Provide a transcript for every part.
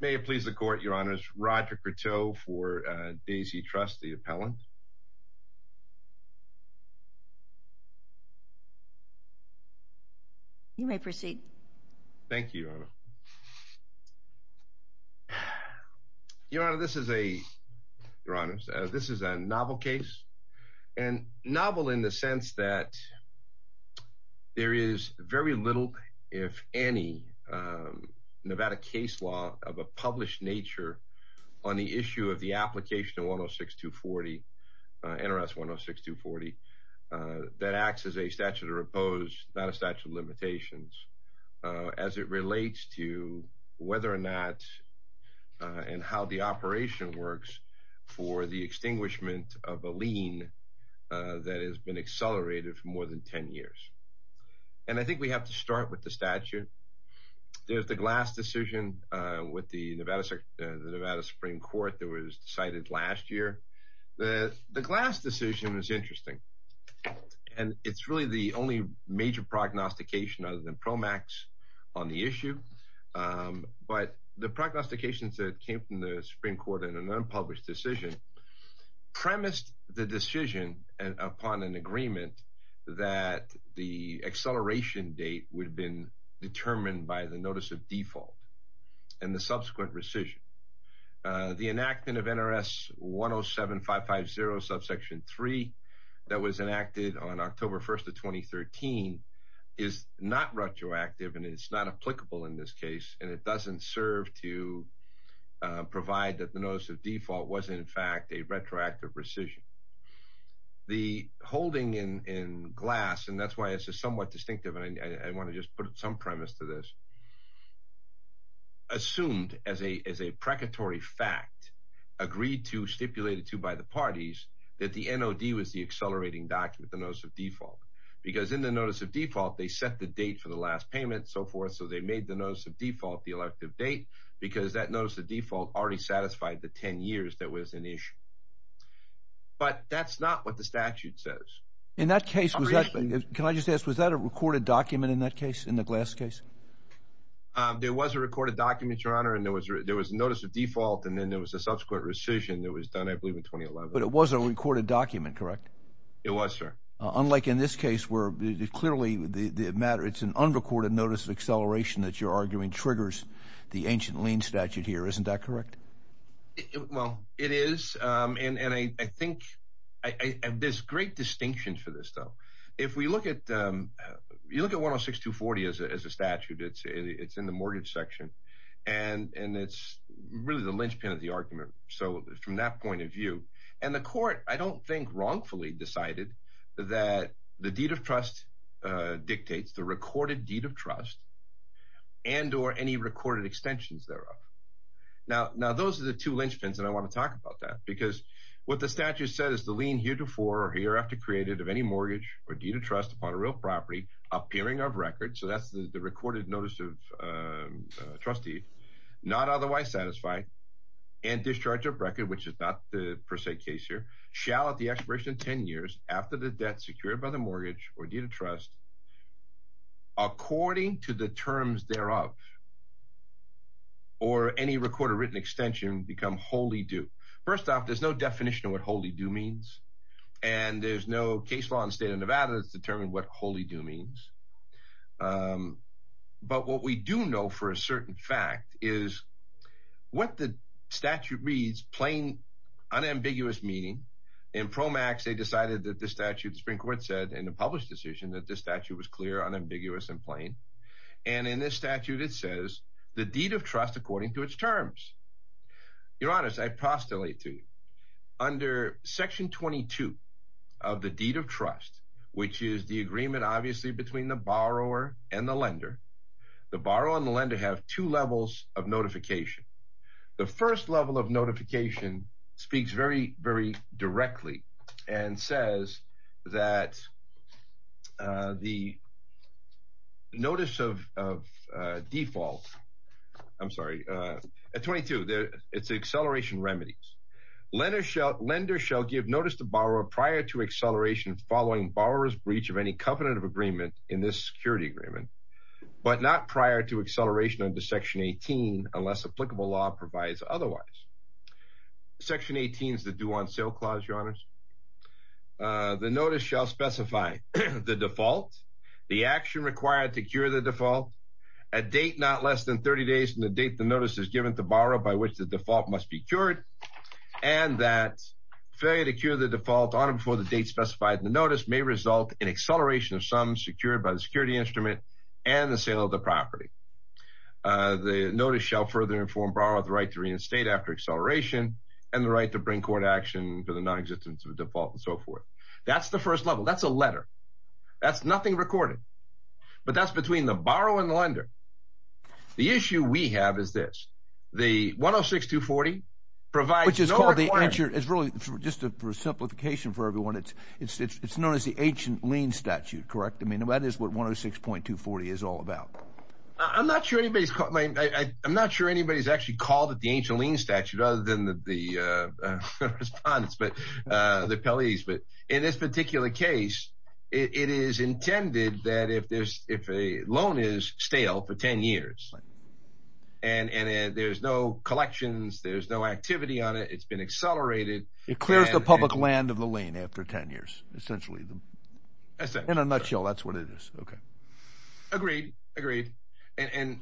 May it please the Court, Your Honors, Roger Courteau for Daisy Trust, the appellant. You may proceed. Thank you, Your Honor. Your Honor, this is a, Your Honors, this is a novel case. And novel in the sense that there is very little, if any, Nevada case law of a published nature on the issue of the application of 106-240, NRS 106-240, that acts as a statute of repose, not a statute of limitations. As it relates to whether or not and how the operation works for the extinguishment of a lien that has been accelerated for more than 10 years. And I think we have to start with the statute. There's the Glass decision with the Nevada Supreme Court that was decided last year. The Glass decision is interesting. And it's really the only major prognostication other than PROMAX on the issue. But the prognostications that came from the Supreme Court in an unpublished decision premised the decision upon an agreement that the acceleration date would have been determined by the notice of default and the subsequent rescission. The enactment of NRS 107-550 subsection 3 that was enacted on October 1st of 2013 is not retroactive and it's not applicable in this case. And it doesn't serve to provide that the notice of default was in fact a retroactive rescission. The holding in Glass, and that's why it's somewhat distinctive and I want to just put some premise to this, assumed as a precatory fact, agreed to, stipulated to by the parties, that the NOD was the accelerating document, the notice of default. Because in the notice of default, they set the date for the last payment and so forth. So they made the notice of default the elective date because that notice of default already satisfied the 10 years that was an issue. But that's not what the statute says. In that case, was that – can I just ask, was that a recorded document in that case, in the Glass case? There was a recorded document, Your Honor, and there was a notice of default and then there was a subsequent rescission that was done I believe in 2011. But it was a recorded document, correct? It was, sir. Unlike in this case where clearly the matter – it's an unrecorded notice of acceleration that you're arguing triggers the ancient lien statute here. Isn't that correct? Well, it is and I think – there's great distinction for this though. If we look at – you look at 106-240 as a statute. It's in the mortgage section and it's really the linchpin of the argument. So from that point of view – and the court I don't think wrongfully decided that the deed of trust dictates the recorded deed of trust and or any recorded extensions thereof. Now, those are the two linchpins and I want to talk about that because what the statute says is the lien heretofore or hereafter created of any mortgage or deed of trust upon a real property, appearing of record – so that's the recorded notice of trustee – not otherwise satisfied and discharge of record, which is not the per se case here, shall at the expiration of 10 years after the debt secured by the mortgage or deed of trust according to the terms thereof or any recorded written extension become wholly due. First off, there's no definition of what wholly due means and there's no case law in the state of Nevada that's determined what wholly due means. But what we do know for a certain fact is what the statute reads, plain, unambiguous meaning. In PROMAX, they decided that the statute – the Supreme Court said in the published decision that the statute was clear, unambiguous and plain. And in this statute, it says the deed of trust according to its terms. Your Honors, I postulate to you, under Section 22 of the deed of trust, which is the agreement obviously between the borrower and the lender, the borrower and the lender have two levels of notification. The first level of notification speaks very, very directly and says that the notice of default – I'm sorry – 22, it's acceleration remedies. Lender shall give notice to borrower prior to acceleration following borrower's breach of any covenant of agreement in this security agreement but not prior to acceleration under Section 18 unless applicable law provides otherwise. Section 18 is the due on sale clause, Your Honors. The notice shall specify the default, the action required to cure the default, a date not less than 30 days from the date the notice is given to borrower by which the default must be cured, and that failure to cure the default on or before the date specified in the notice may result in acceleration of some secured by the security instrument and the sale of the property. The notice shall further inform borrower of the right to reinstate after acceleration and the right to bring court action for the nonexistence of a default and so forth. That's the first level. That's a letter. That's nothing recorded. But that's between the borrower and the lender. The issue we have is this. The 106.240 provides no requirement – Which is called the – it's really just a simplification for everyone. It's known as the ancient lien statute, correct? I mean, that is what 106.240 is all about. I'm not sure anybody's actually called it the ancient lien statute other than the respondents, the appellees. But in this particular case, it is intended that if a loan is stale for 10 years and there's no collections, there's no activity on it, it's been accelerated – It clears the public land of the lien after 10 years, essentially. In a nutshell, that's what it is. Agreed. Agreed.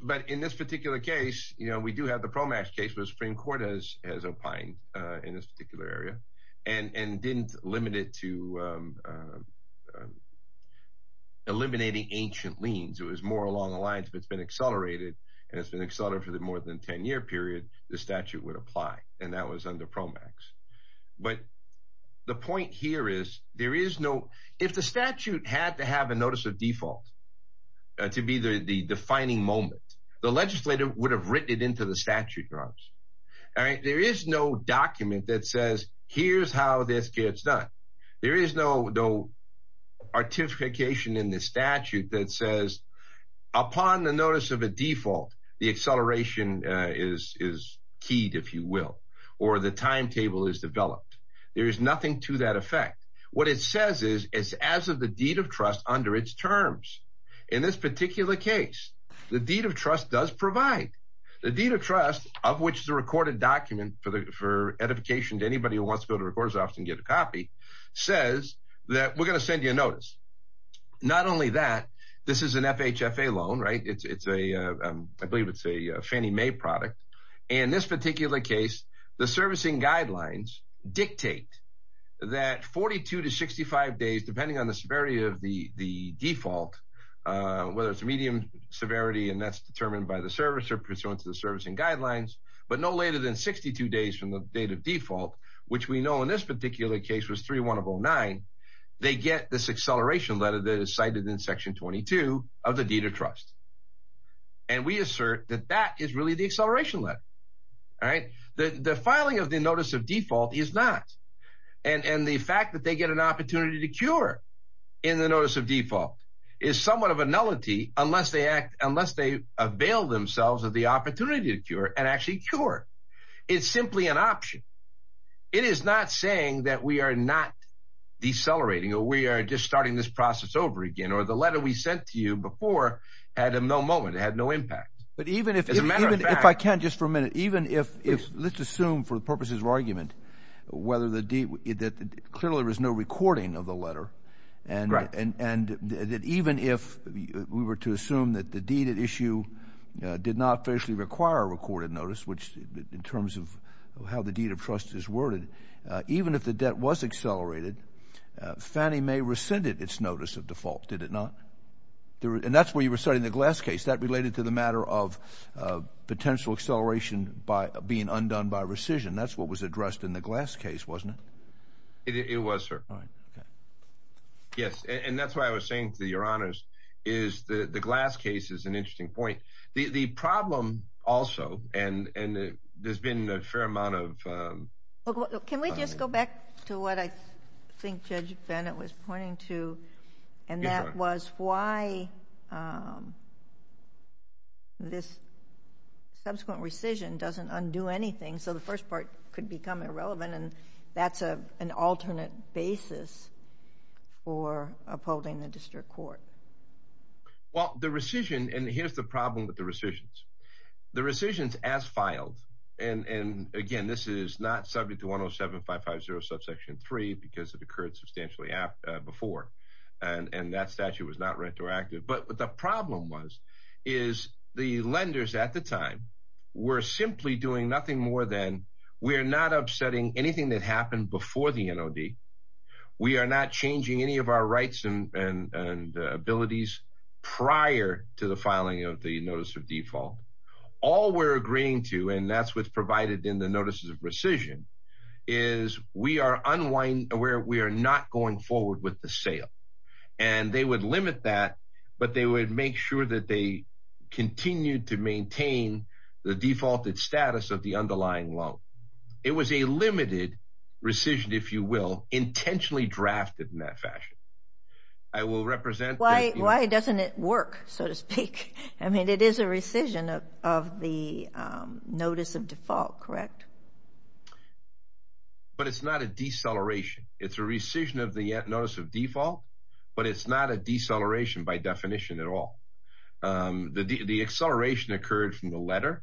But in this particular case, we do have the PROMAX case where the Supreme Court has opined in this particular area and didn't limit it to eliminating ancient liens. It was more along the lines if it's been accelerated and it's been accelerated for more than a 10-year period, the statute would apply, and that was under PROMAX. But the point here is there is no – if the statute had to have a notice of default to be the defining moment, the legislator would have written it into the statute, right? There is no document that says, here's how this gets done. There is no artification in the statute that says upon the notice of a default, the acceleration is keyed, if you will, or the timetable is developed. There is nothing to that effect. What it says is it's as of the deed of trust under its terms. In this particular case, the deed of trust does provide. The deed of trust of which the recorded document for edification to anybody who wants to go to the recorder's office and get a copy says that we're going to send you a notice. Not only that, this is an FHFA loan, right? It's a – I believe it's a Fannie Mae product. In this particular case, the servicing guidelines dictate that 42 to 65 days, depending on the severity of the default, whether it's medium severity and that's determined by the servicer pursuant to the servicing guidelines, but no later than 62 days from the date of default, which we know in this particular case was 3-1-0-9, they get this acceleration letter that is cited in section 22 of the deed of trust. And we assert that that is really the acceleration letter, all right? The filing of the notice of default is not. And the fact that they get an opportunity to cure in the notice of default is somewhat of a nullity unless they act – unless they avail themselves of the opportunity to cure and actually cure. It's simply an option. It is not saying that we are not decelerating or we are just starting this process over again or the letter we sent to you before had no moment, had no impact. But even if – if I can just for a minute. Even if – let's assume for the purposes of argument whether the – that clearly there was no recording of the letter and that even if we were to assume that the deed at issue did not officially require a recorded notice, which in terms of how the deed of trust is worded, even if the debt was accelerated, Fannie Mae rescinded its notice of default, did it not? And that's where you were citing the Glass case. That related to the matter of potential acceleration by being undone by rescission. That's what was addressed in the Glass case, wasn't it? It was, sir. All right. Okay. Yes. And that's why I was saying to your honors is the Glass case is an interesting point. The problem also – and there's been a fair amount of – Can we just go back to what I think Judge Bennett was pointing to? And that was why this subsequent rescission doesn't undo anything. So the first part could become irrelevant and that's an alternate basis for upholding the district court. Well, the rescission – and here's the problem with the rescissions. The rescissions as filed – and again, this is not subject to 107550 subsection 3 because it occurred substantially before and that statute was not retroactive. But the problem was is the lenders at the time were simply doing nothing more than we're not upsetting anything that happened before the NOD. We are not changing any of our rights and abilities prior to the filing of the notice of default. All we're agreeing to, and that's what's provided in the notices of rescission, is we are not going forward with the sale. And they would limit that, but they would make sure that they continued to maintain the defaulted status of the underlying loan. It was a limited rescission, if you will, intentionally drafted in that fashion. I will represent – Why doesn't it work, so to speak? I mean, it is a rescission of the notice of default, correct? But it's not a deceleration. It's a rescission of the notice of default, but it's not a deceleration by definition at all. The acceleration occurred from the letter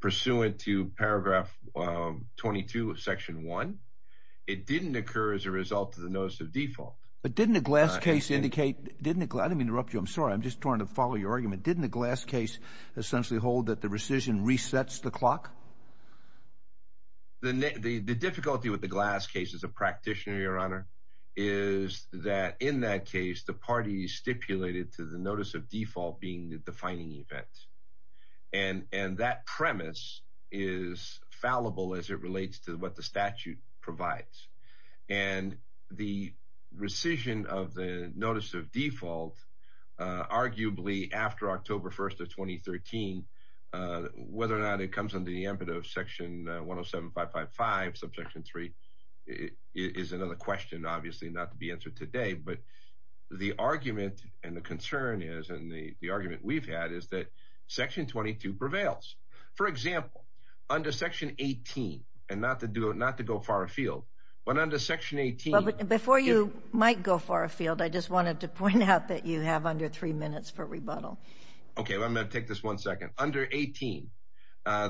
pursuant to paragraph 22 of section 1. It didn't occur as a result of the notice of default. But didn't the Glass case indicate – I didn't mean to interrupt you. I'm sorry. I'm just trying to follow your argument. Didn't the Glass case essentially hold that the rescission resets the clock? The difficulty with the Glass case as a practitioner, Your Honor, is that in that case, the parties stipulated to the notice of default being the defining event. And that premise is fallible as it relates to what the statute provides. And the rescission of the notice of default, arguably after October 1st of 2013, whether or not it comes under the impetus of section 107555, subsection 3, is another question, obviously, not to be answered today. But the argument and the concern is, and the argument we've had, is that section 22 prevails. For example, under section 18, and not to go far afield, but under section 18 – Before you might go far afield, I just wanted to point out that you have under three minutes for rebuttal. Okay. I'm going to take this one second. Under 18,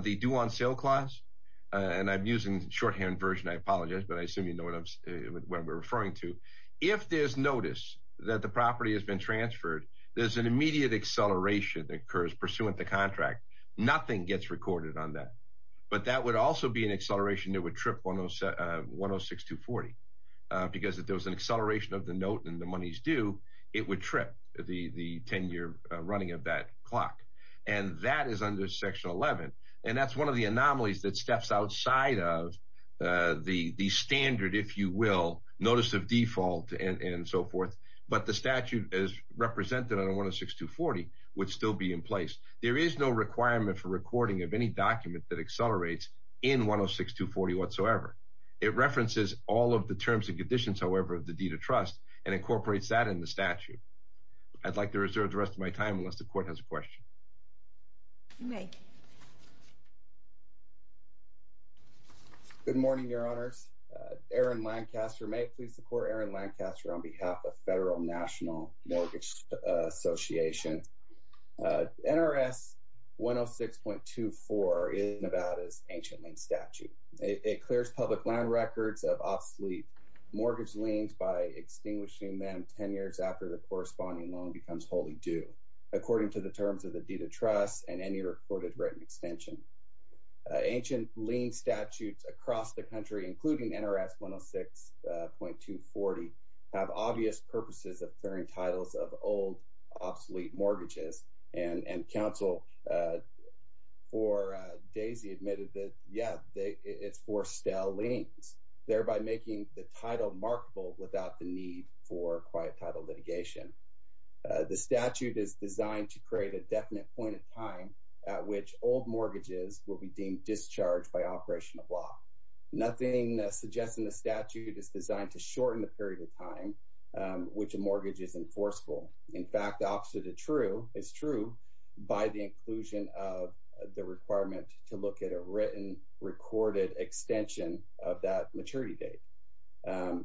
the due on sale clause – and I'm using the shorthand version. I apologize, but I assume you know what I'm referring to. If there's notice that the property has been transferred, there's an immediate acceleration that occurs pursuant to contract. Nothing gets recorded on that. But that would also be an acceleration that would trip 106240. Because if there was an acceleration of the note and the money's due, it would trip the 10-year running of that clock. And that is under section 11. And that's one of the anomalies that steps outside of the standard, if you will, notice of default and so forth. But the statute, as represented on 106240, would still be in place. There is no requirement for recording of any document that accelerates in 106240 whatsoever. It references all of the terms and conditions, however, of the deed of trust, and incorporates that in the statute. I'd like to reserve the rest of my time, unless the court has a question. You may. Good morning, Your Honors. Aaron Lancaster. May it please the court, Aaron Lancaster, on behalf of Federal National Mortgage Association. NRS 106.24 is Nevada's ancient lien statute. It clears public loan records of obsolete mortgage liens by extinguishing them 10 years after the corresponding loan becomes wholly due. According to the terms of the deed of trust and any recorded written extension. Ancient lien statutes across the country, including NRS 106.240, have obvious purposes of clearing titles of old obsolete mortgages. And counsel for Daisy admitted that, yeah, it's for stale liens, thereby making the title markable without the need for quiet title litigation. The statute is designed to create a definite point in time at which old mortgages will be deemed discharged by operational law. Nothing suggesting the statute is designed to shorten the period of time which a mortgage is enforceable. In fact, the opposite is true by the inclusion of the requirement to look at a written recorded extension of that maturity date.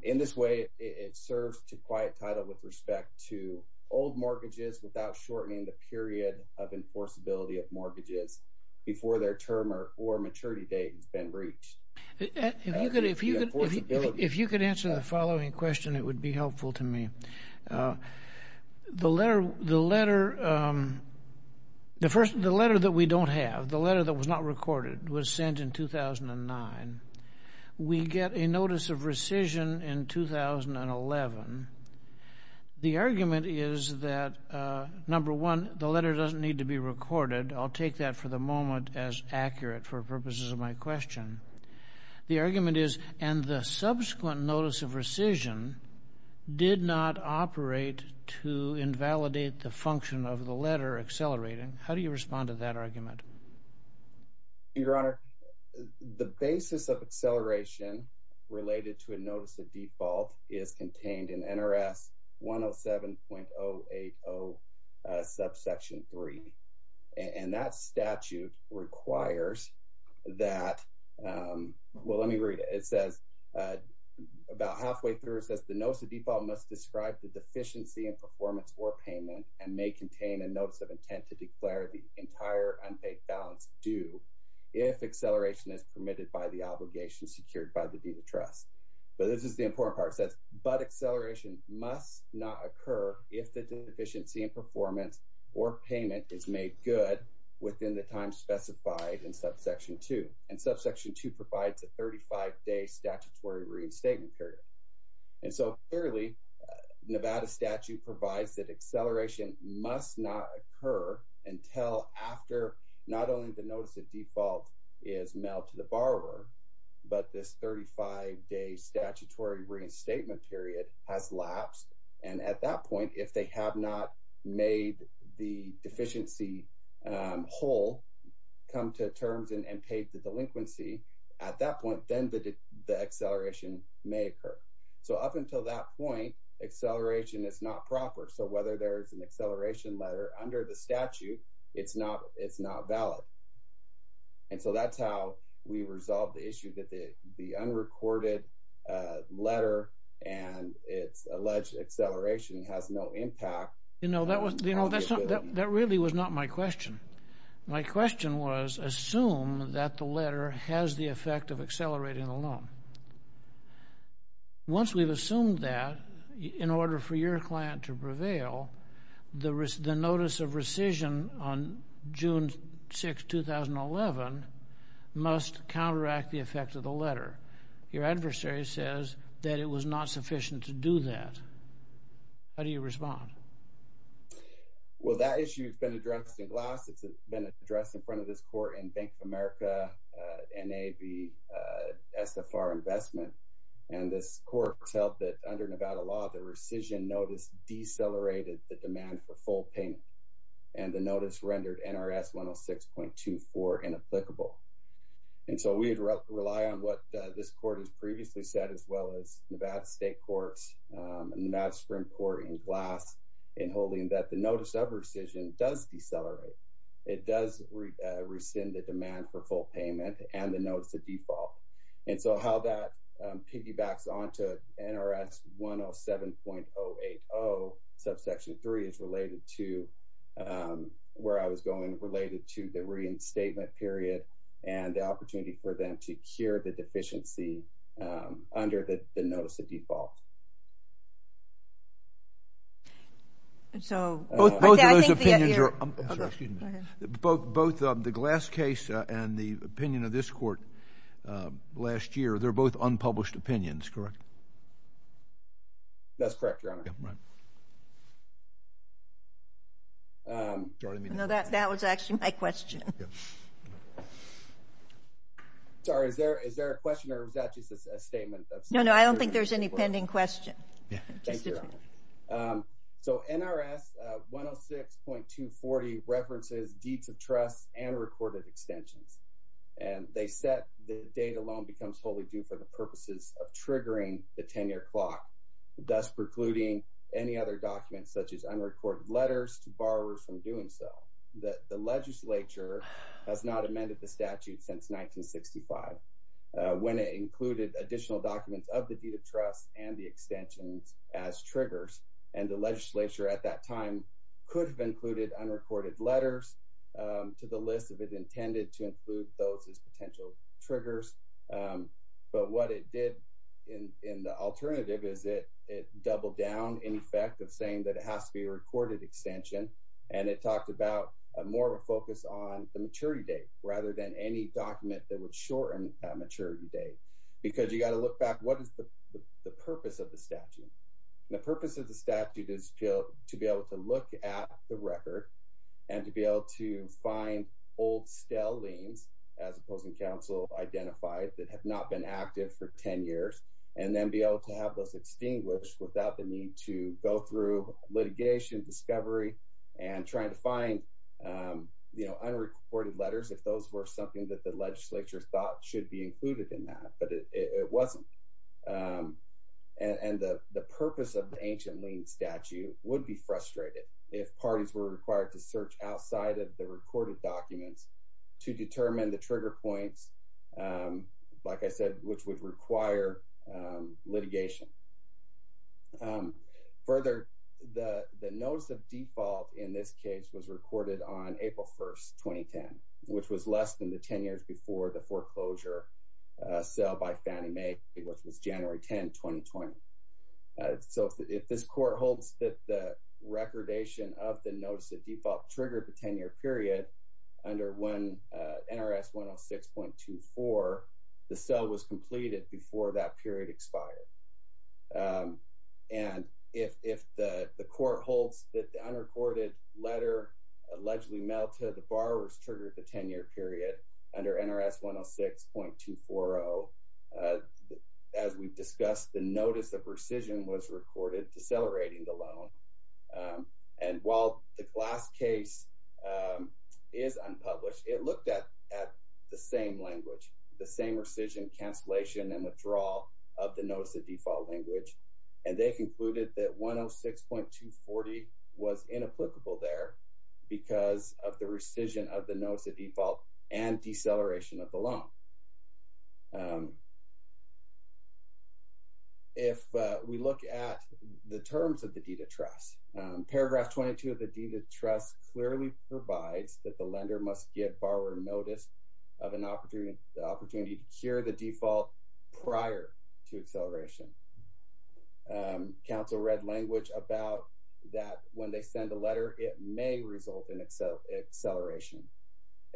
In this way, it serves to quiet title with respect to old mortgages without shortening the period of enforceability of mortgages before their term or maturity date has been reached. If you could answer the following question, it would be helpful to me. The letter that we don't have, the letter that was not recorded, was sent in 2009. We get a notice of rescission in 2011. The argument is that, number one, the letter doesn't need to be recorded. I'll take that for the moment as accurate for purposes of my question. The argument is, and the subsequent notice of rescission did not operate to invalidate the function of the letter accelerating. Your Honor, the basis of acceleration related to a notice of default is contained in NRS 107.080 subsection 3. And that statute requires that, well, let me read it. About halfway through, it says, the notice of default must describe the deficiency in performance or payment and may contain a notice of intent to declare the entire unpaid balance due if acceleration is permitted by the obligation secured by the deed of trust. But this is the important part. It says, but acceleration must not occur if the deficiency in performance or payment is made good within the time specified in subsection 2. And subsection 2 provides a 35-day statutory reinstatement period. And so, clearly, Nevada statute provides that acceleration must not occur until after not only the notice of default is mailed to the borrower, but this 35-day statutory reinstatement period has lapsed. And at that point, if they have not made the deficiency whole, come to terms and paid the delinquency, at that point, then the acceleration may occur. So up until that point, acceleration is not proper. So whether there is an acceleration letter under the statute, it's not valid. And so that's how we resolve the issue that the unrecorded letter and its alleged acceleration has no impact. You know, that really was not my question. My question was, assume that the letter has the effect of accelerating the loan. Once we've assumed that, in order for your client to prevail, the notice of rescission on June 6, 2011 must counteract the effect of the letter. Your adversary says that it was not sufficient to do that. How do you respond? Well, that issue has been addressed in glass. It's been addressed in front of this court in Bank of America, NAB, SFR Investment. And this court held that under Nevada law, the rescission notice decelerated the demand for full payment. And the notice rendered NRS 106.24 inapplicable. And so we rely on what this court has previously said, as well as Nevada State Courts and Nevada Supreme Court in glass, in holding that the notice of rescission does decelerate. It does rescind the demand for full payment and the notice of default. And so how that piggybacks onto NRS 107.080 subsection 3 is related to where I was going, related to the reinstatement period and the opportunity for them to cure the deficiency under the notice of default. Both of those opinions are unpublished. Both the glass case and the opinion of this court last year, they're both unpublished opinions, correct? That's correct, Your Honor. Yeah, right. No, that was actually my question. Sorry, is there a question or is that just a statement? No, no, I don't think there's any pending questions. Thank you, Your Honor. So NRS 106.240 references deeds of trust and recorded extensions. And they said the date alone becomes wholly due for the purposes of triggering the 10-year clock, thus precluding any other documents such as unrecorded letters to borrowers from doing so. The legislature has not amended the statute since 1965. When it included additional documents of the deed of trust and the extensions as triggers, and the legislature at that time could have included unrecorded letters to the list if it intended to include those as potential triggers. But what it did in the alternative is it doubled down in effect of saying that it has to be a recorded extension. And it talked about more of a focus on the maturity date rather than any document that would shorten a maturity date. Because you got to look back, what is the purpose of the statute? The purpose of the statute is to be able to look at the record and to be able to find old stale liens, as the opposing counsel identified, that have not been active for 10 years, and then be able to have those extinguished without the need to go through litigation, discovery, and trying to find unrecorded letters if those were something that the legislature thought should be included in that. But it wasn't. And the purpose of the ancient lien statute would be frustrated if parties were required to search outside of the recorded documents to determine the trigger points, like I said, which would require litigation. Further, the notice of default in this case was recorded on April 1st, 2010, which was less than the 10 years before the foreclosure sale by Fannie Mae, which was January 10, 2020. So if this court holds that the recordation of the notice of default triggered the 10-year period under NRS 106.24, the sale was completed before that period expired. And if the court holds that the unrecorded letter allegedly mailed to the borrowers triggered the 10-year period under NRS 106.240, as we've discussed, the notice of rescission was recorded decelerating the loan. And while the last case is unpublished, it looked at the same language, the same rescission, cancellation, and withdrawal of the notice of default language. And they concluded that 106.240 was inapplicable there because of the rescission of the notice of default and deceleration of the loan. If we look at the terms of the deed of trust, paragraph 22 of the deed of trust clearly provides that the lender must give borrower notice of an opportunity to cure the default prior to acceleration. Counsel read language about that when they send a letter, it may result in acceleration.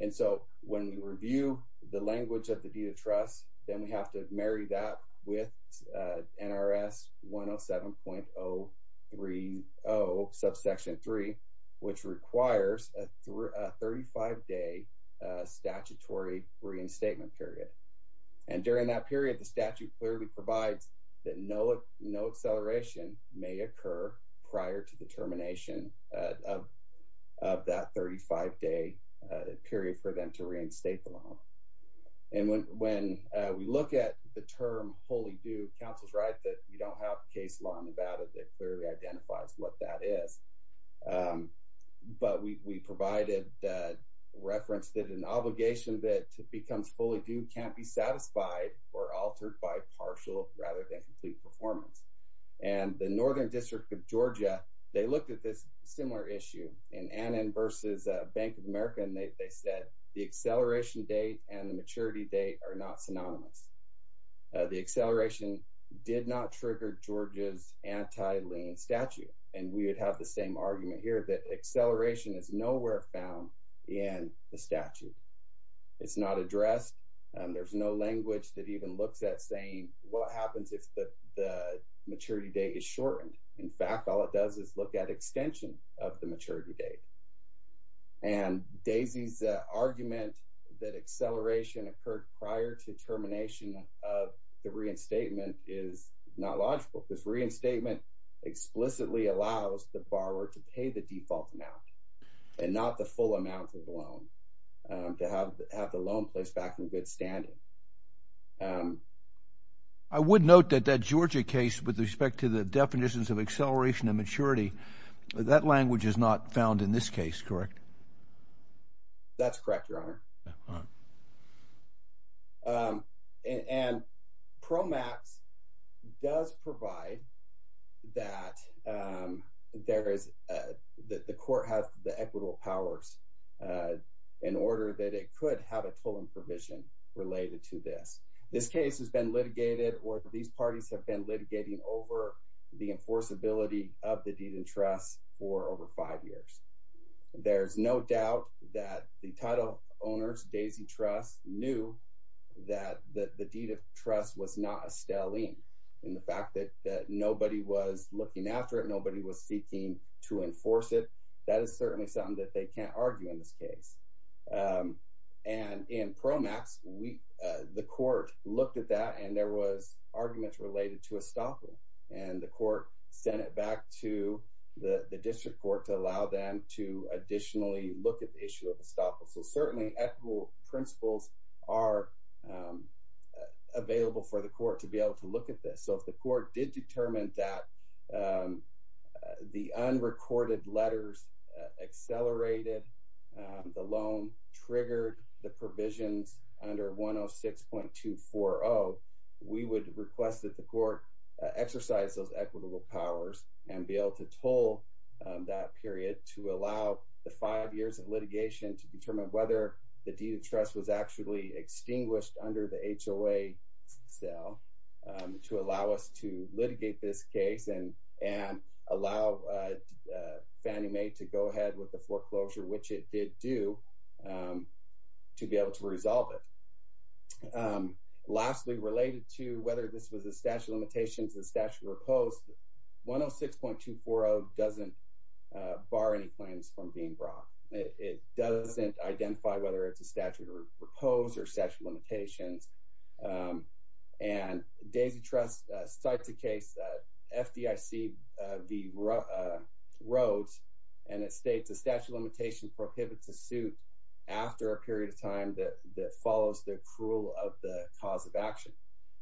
And so when we review the language of the deed of trust, then we have to marry that with NRS 107.030, subsection 3, which requires a 35-day statutory reinstatement period. And during that period, the statute clearly provides that no acceleration may occur prior to the termination of that 35-day period for them to reinstate the loan. And when we look at the term wholly due, counsel's right that you don't have case law in Nevada that clearly identifies what that is. But we provided that reference that an obligation that becomes fully due can't be satisfied or altered by partial rather than complete performance. And the Northern District of Georgia, they looked at this similar issue in Annan versus Bank of America, and they said the acceleration date and the maturity date are not synonymous. The acceleration did not trigger Georgia's anti-lien statute. And we would have the same argument here that acceleration is nowhere found in the statute. It's not addressed. There's no language that even looks at saying what happens if the maturity date is shortened. In fact, all it does is look at extension of the maturity date. And Daisy's argument that acceleration occurred prior to termination of the reinstatement is not logical because reinstatement explicitly allows the borrower to pay the default amount and not the full amount of the loan to have the loan placed back in good standing. I would note that that Georgia case with respect to the definitions of acceleration and maturity, that language is not found in this case, correct? That's correct, Your Honor. And PROMAPS does provide that the court has the equitable powers in order that it could have a tolling provision related to this. This case has been litigated or these parties have been litigating over the enforceability of the deed in trust for over five years. There's no doubt that the title owners, Daisy Trust, knew that the deed of trust was not a stalling. And the fact that nobody was looking after it, nobody was seeking to enforce it, that is certainly something that they can't argue in this case. And in PROMAPS, the court looked at that and there was arguments related to a stopper. And the court sent it back to the district court to allow them to additionally look at the issue of a stopper. So certainly equitable principles are available for the court to be able to look at this. So if the court did determine that the unrecorded letters accelerated the loan, triggered the provisions under 106.240, we would request that the court exercise those equitable powers and be able to toll that period to allow the five years of litigation to determine whether the deed of trust was actually extinguished under the HOA sale to allow us to litigate this case and allow Fannie Mae to go ahead with the foreclosure, which it did do, to be able to resolve it. Lastly, related to whether this was a statute of limitations, a statute of repose, 106.240 doesn't bar any claims from being brought. It doesn't identify whether it's a statute of repose or statute of limitations. And Daisy Trust cites a case, FDIC v. Rhodes, and it states, a statute of limitation prohibits a suit after a period of time that follows the accrual of the cause of action.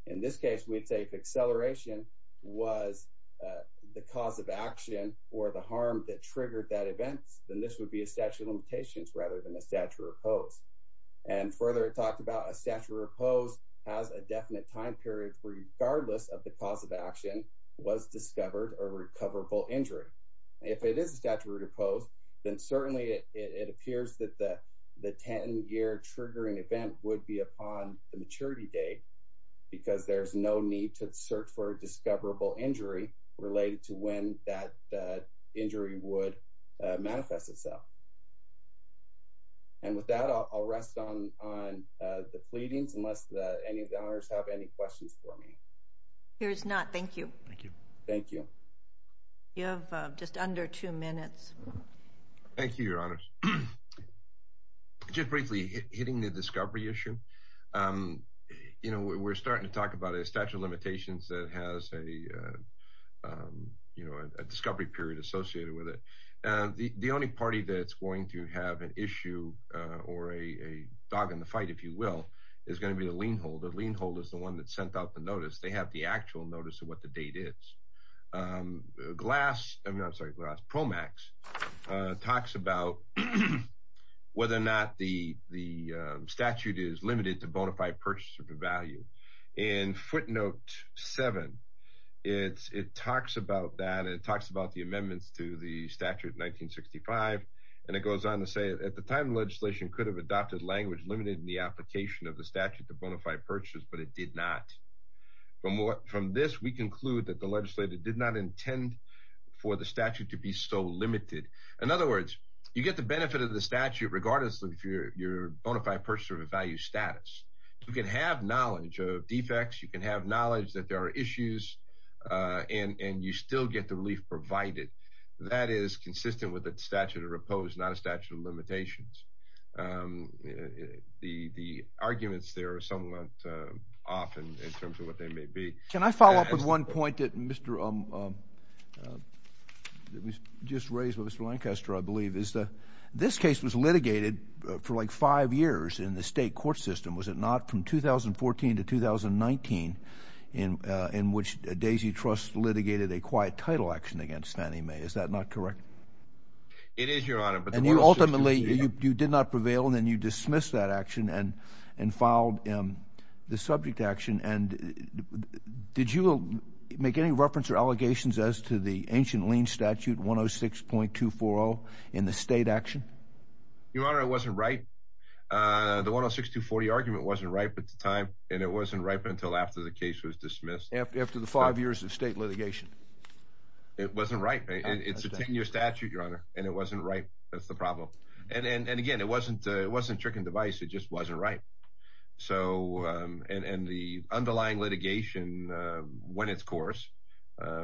In this case, we'd say if acceleration was the cause of action or the harm that triggered that event, then this would be a statute of limitations rather than a statute of repose. And further, it talked about a statute of repose has a definite time period regardless of the cause of action was discovered or recoverable injury. If it is a statute of repose, then certainly it appears that the 10-year triggering event would be upon the maturity date because there's no need to search for a discoverable injury related to when that injury would manifest itself. And with that, I'll rest on the pleadings unless any of the honors have any questions for me. Here's not. Thank you. Thank you. You have just under two minutes. Thank you, Your Honors. Just briefly, hitting the discovery issue. You know, we're starting to talk about a statute of limitations that has a discovery period associated with it. The only party that's going to have an issue or a dog in the fight, if you will, is going to be the lien holder. The lien holder is the one that sent out the notice. They have the actual notice of what the date is. PROMAX talks about whether or not the statute is limited to bona fide purchase of the value. In footnote 7, it talks about that. It talks about the amendments to the statute in 1965. And it goes on to say, at the time, legislation could have adopted language limited in the application of the statute to bona fide purchase, but it did not. From this, we conclude that the legislator did not intend for the statute to be so limited. In other words, you get the benefit of the statute regardless of your bona fide purchase of the value status. You can have knowledge of defects. You can have knowledge that there are issues, and you still get the relief provided. That is consistent with the statute of repose, not a statute of limitations. The arguments there are somewhat off in terms of what they may be. Can I follow up with one point that was just raised by Mr. Lancaster, I believe? This case was litigated for like five years in the state court system, was it not, from 2014 to 2019, in which Daisy Trust litigated a quiet title action against Fannie Mae. Is that not correct? It is, Your Honor. Ultimately, you did not prevail, and then you dismissed that action and filed the subject action. Did you make any reference or allegations as to the ancient lien statute, 106.240, in the state action? Your Honor, it wasn't ripe. The 106.240 argument wasn't ripe at the time, and it wasn't ripe until after the case was dismissed. After the five years of state litigation? It wasn't ripe. It's a 10-year statute, Your Honor, and it wasn't ripe. That's the problem. And again, it wasn't trick and device. It just wasn't ripe. And the underlying litigation went its course.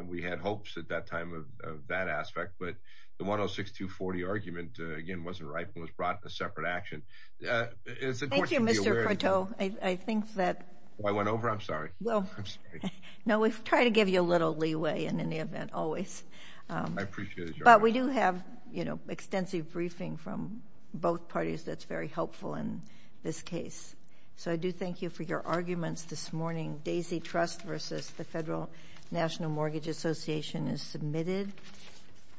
We had hopes at that time of that aspect, but the 106.240 argument, again, wasn't ripe and was brought in a separate action. Thank you, Mr. Corteau. I think that— I went over? I'm sorry. No, we try to give you a little leeway in any event, always. I appreciate it, Your Honor. But we do have extensive briefing from both parties that's very helpful in this case. So I do thank you for your arguments this morning. Daisy Trust v. the Federal National Mortgage Association is submitted.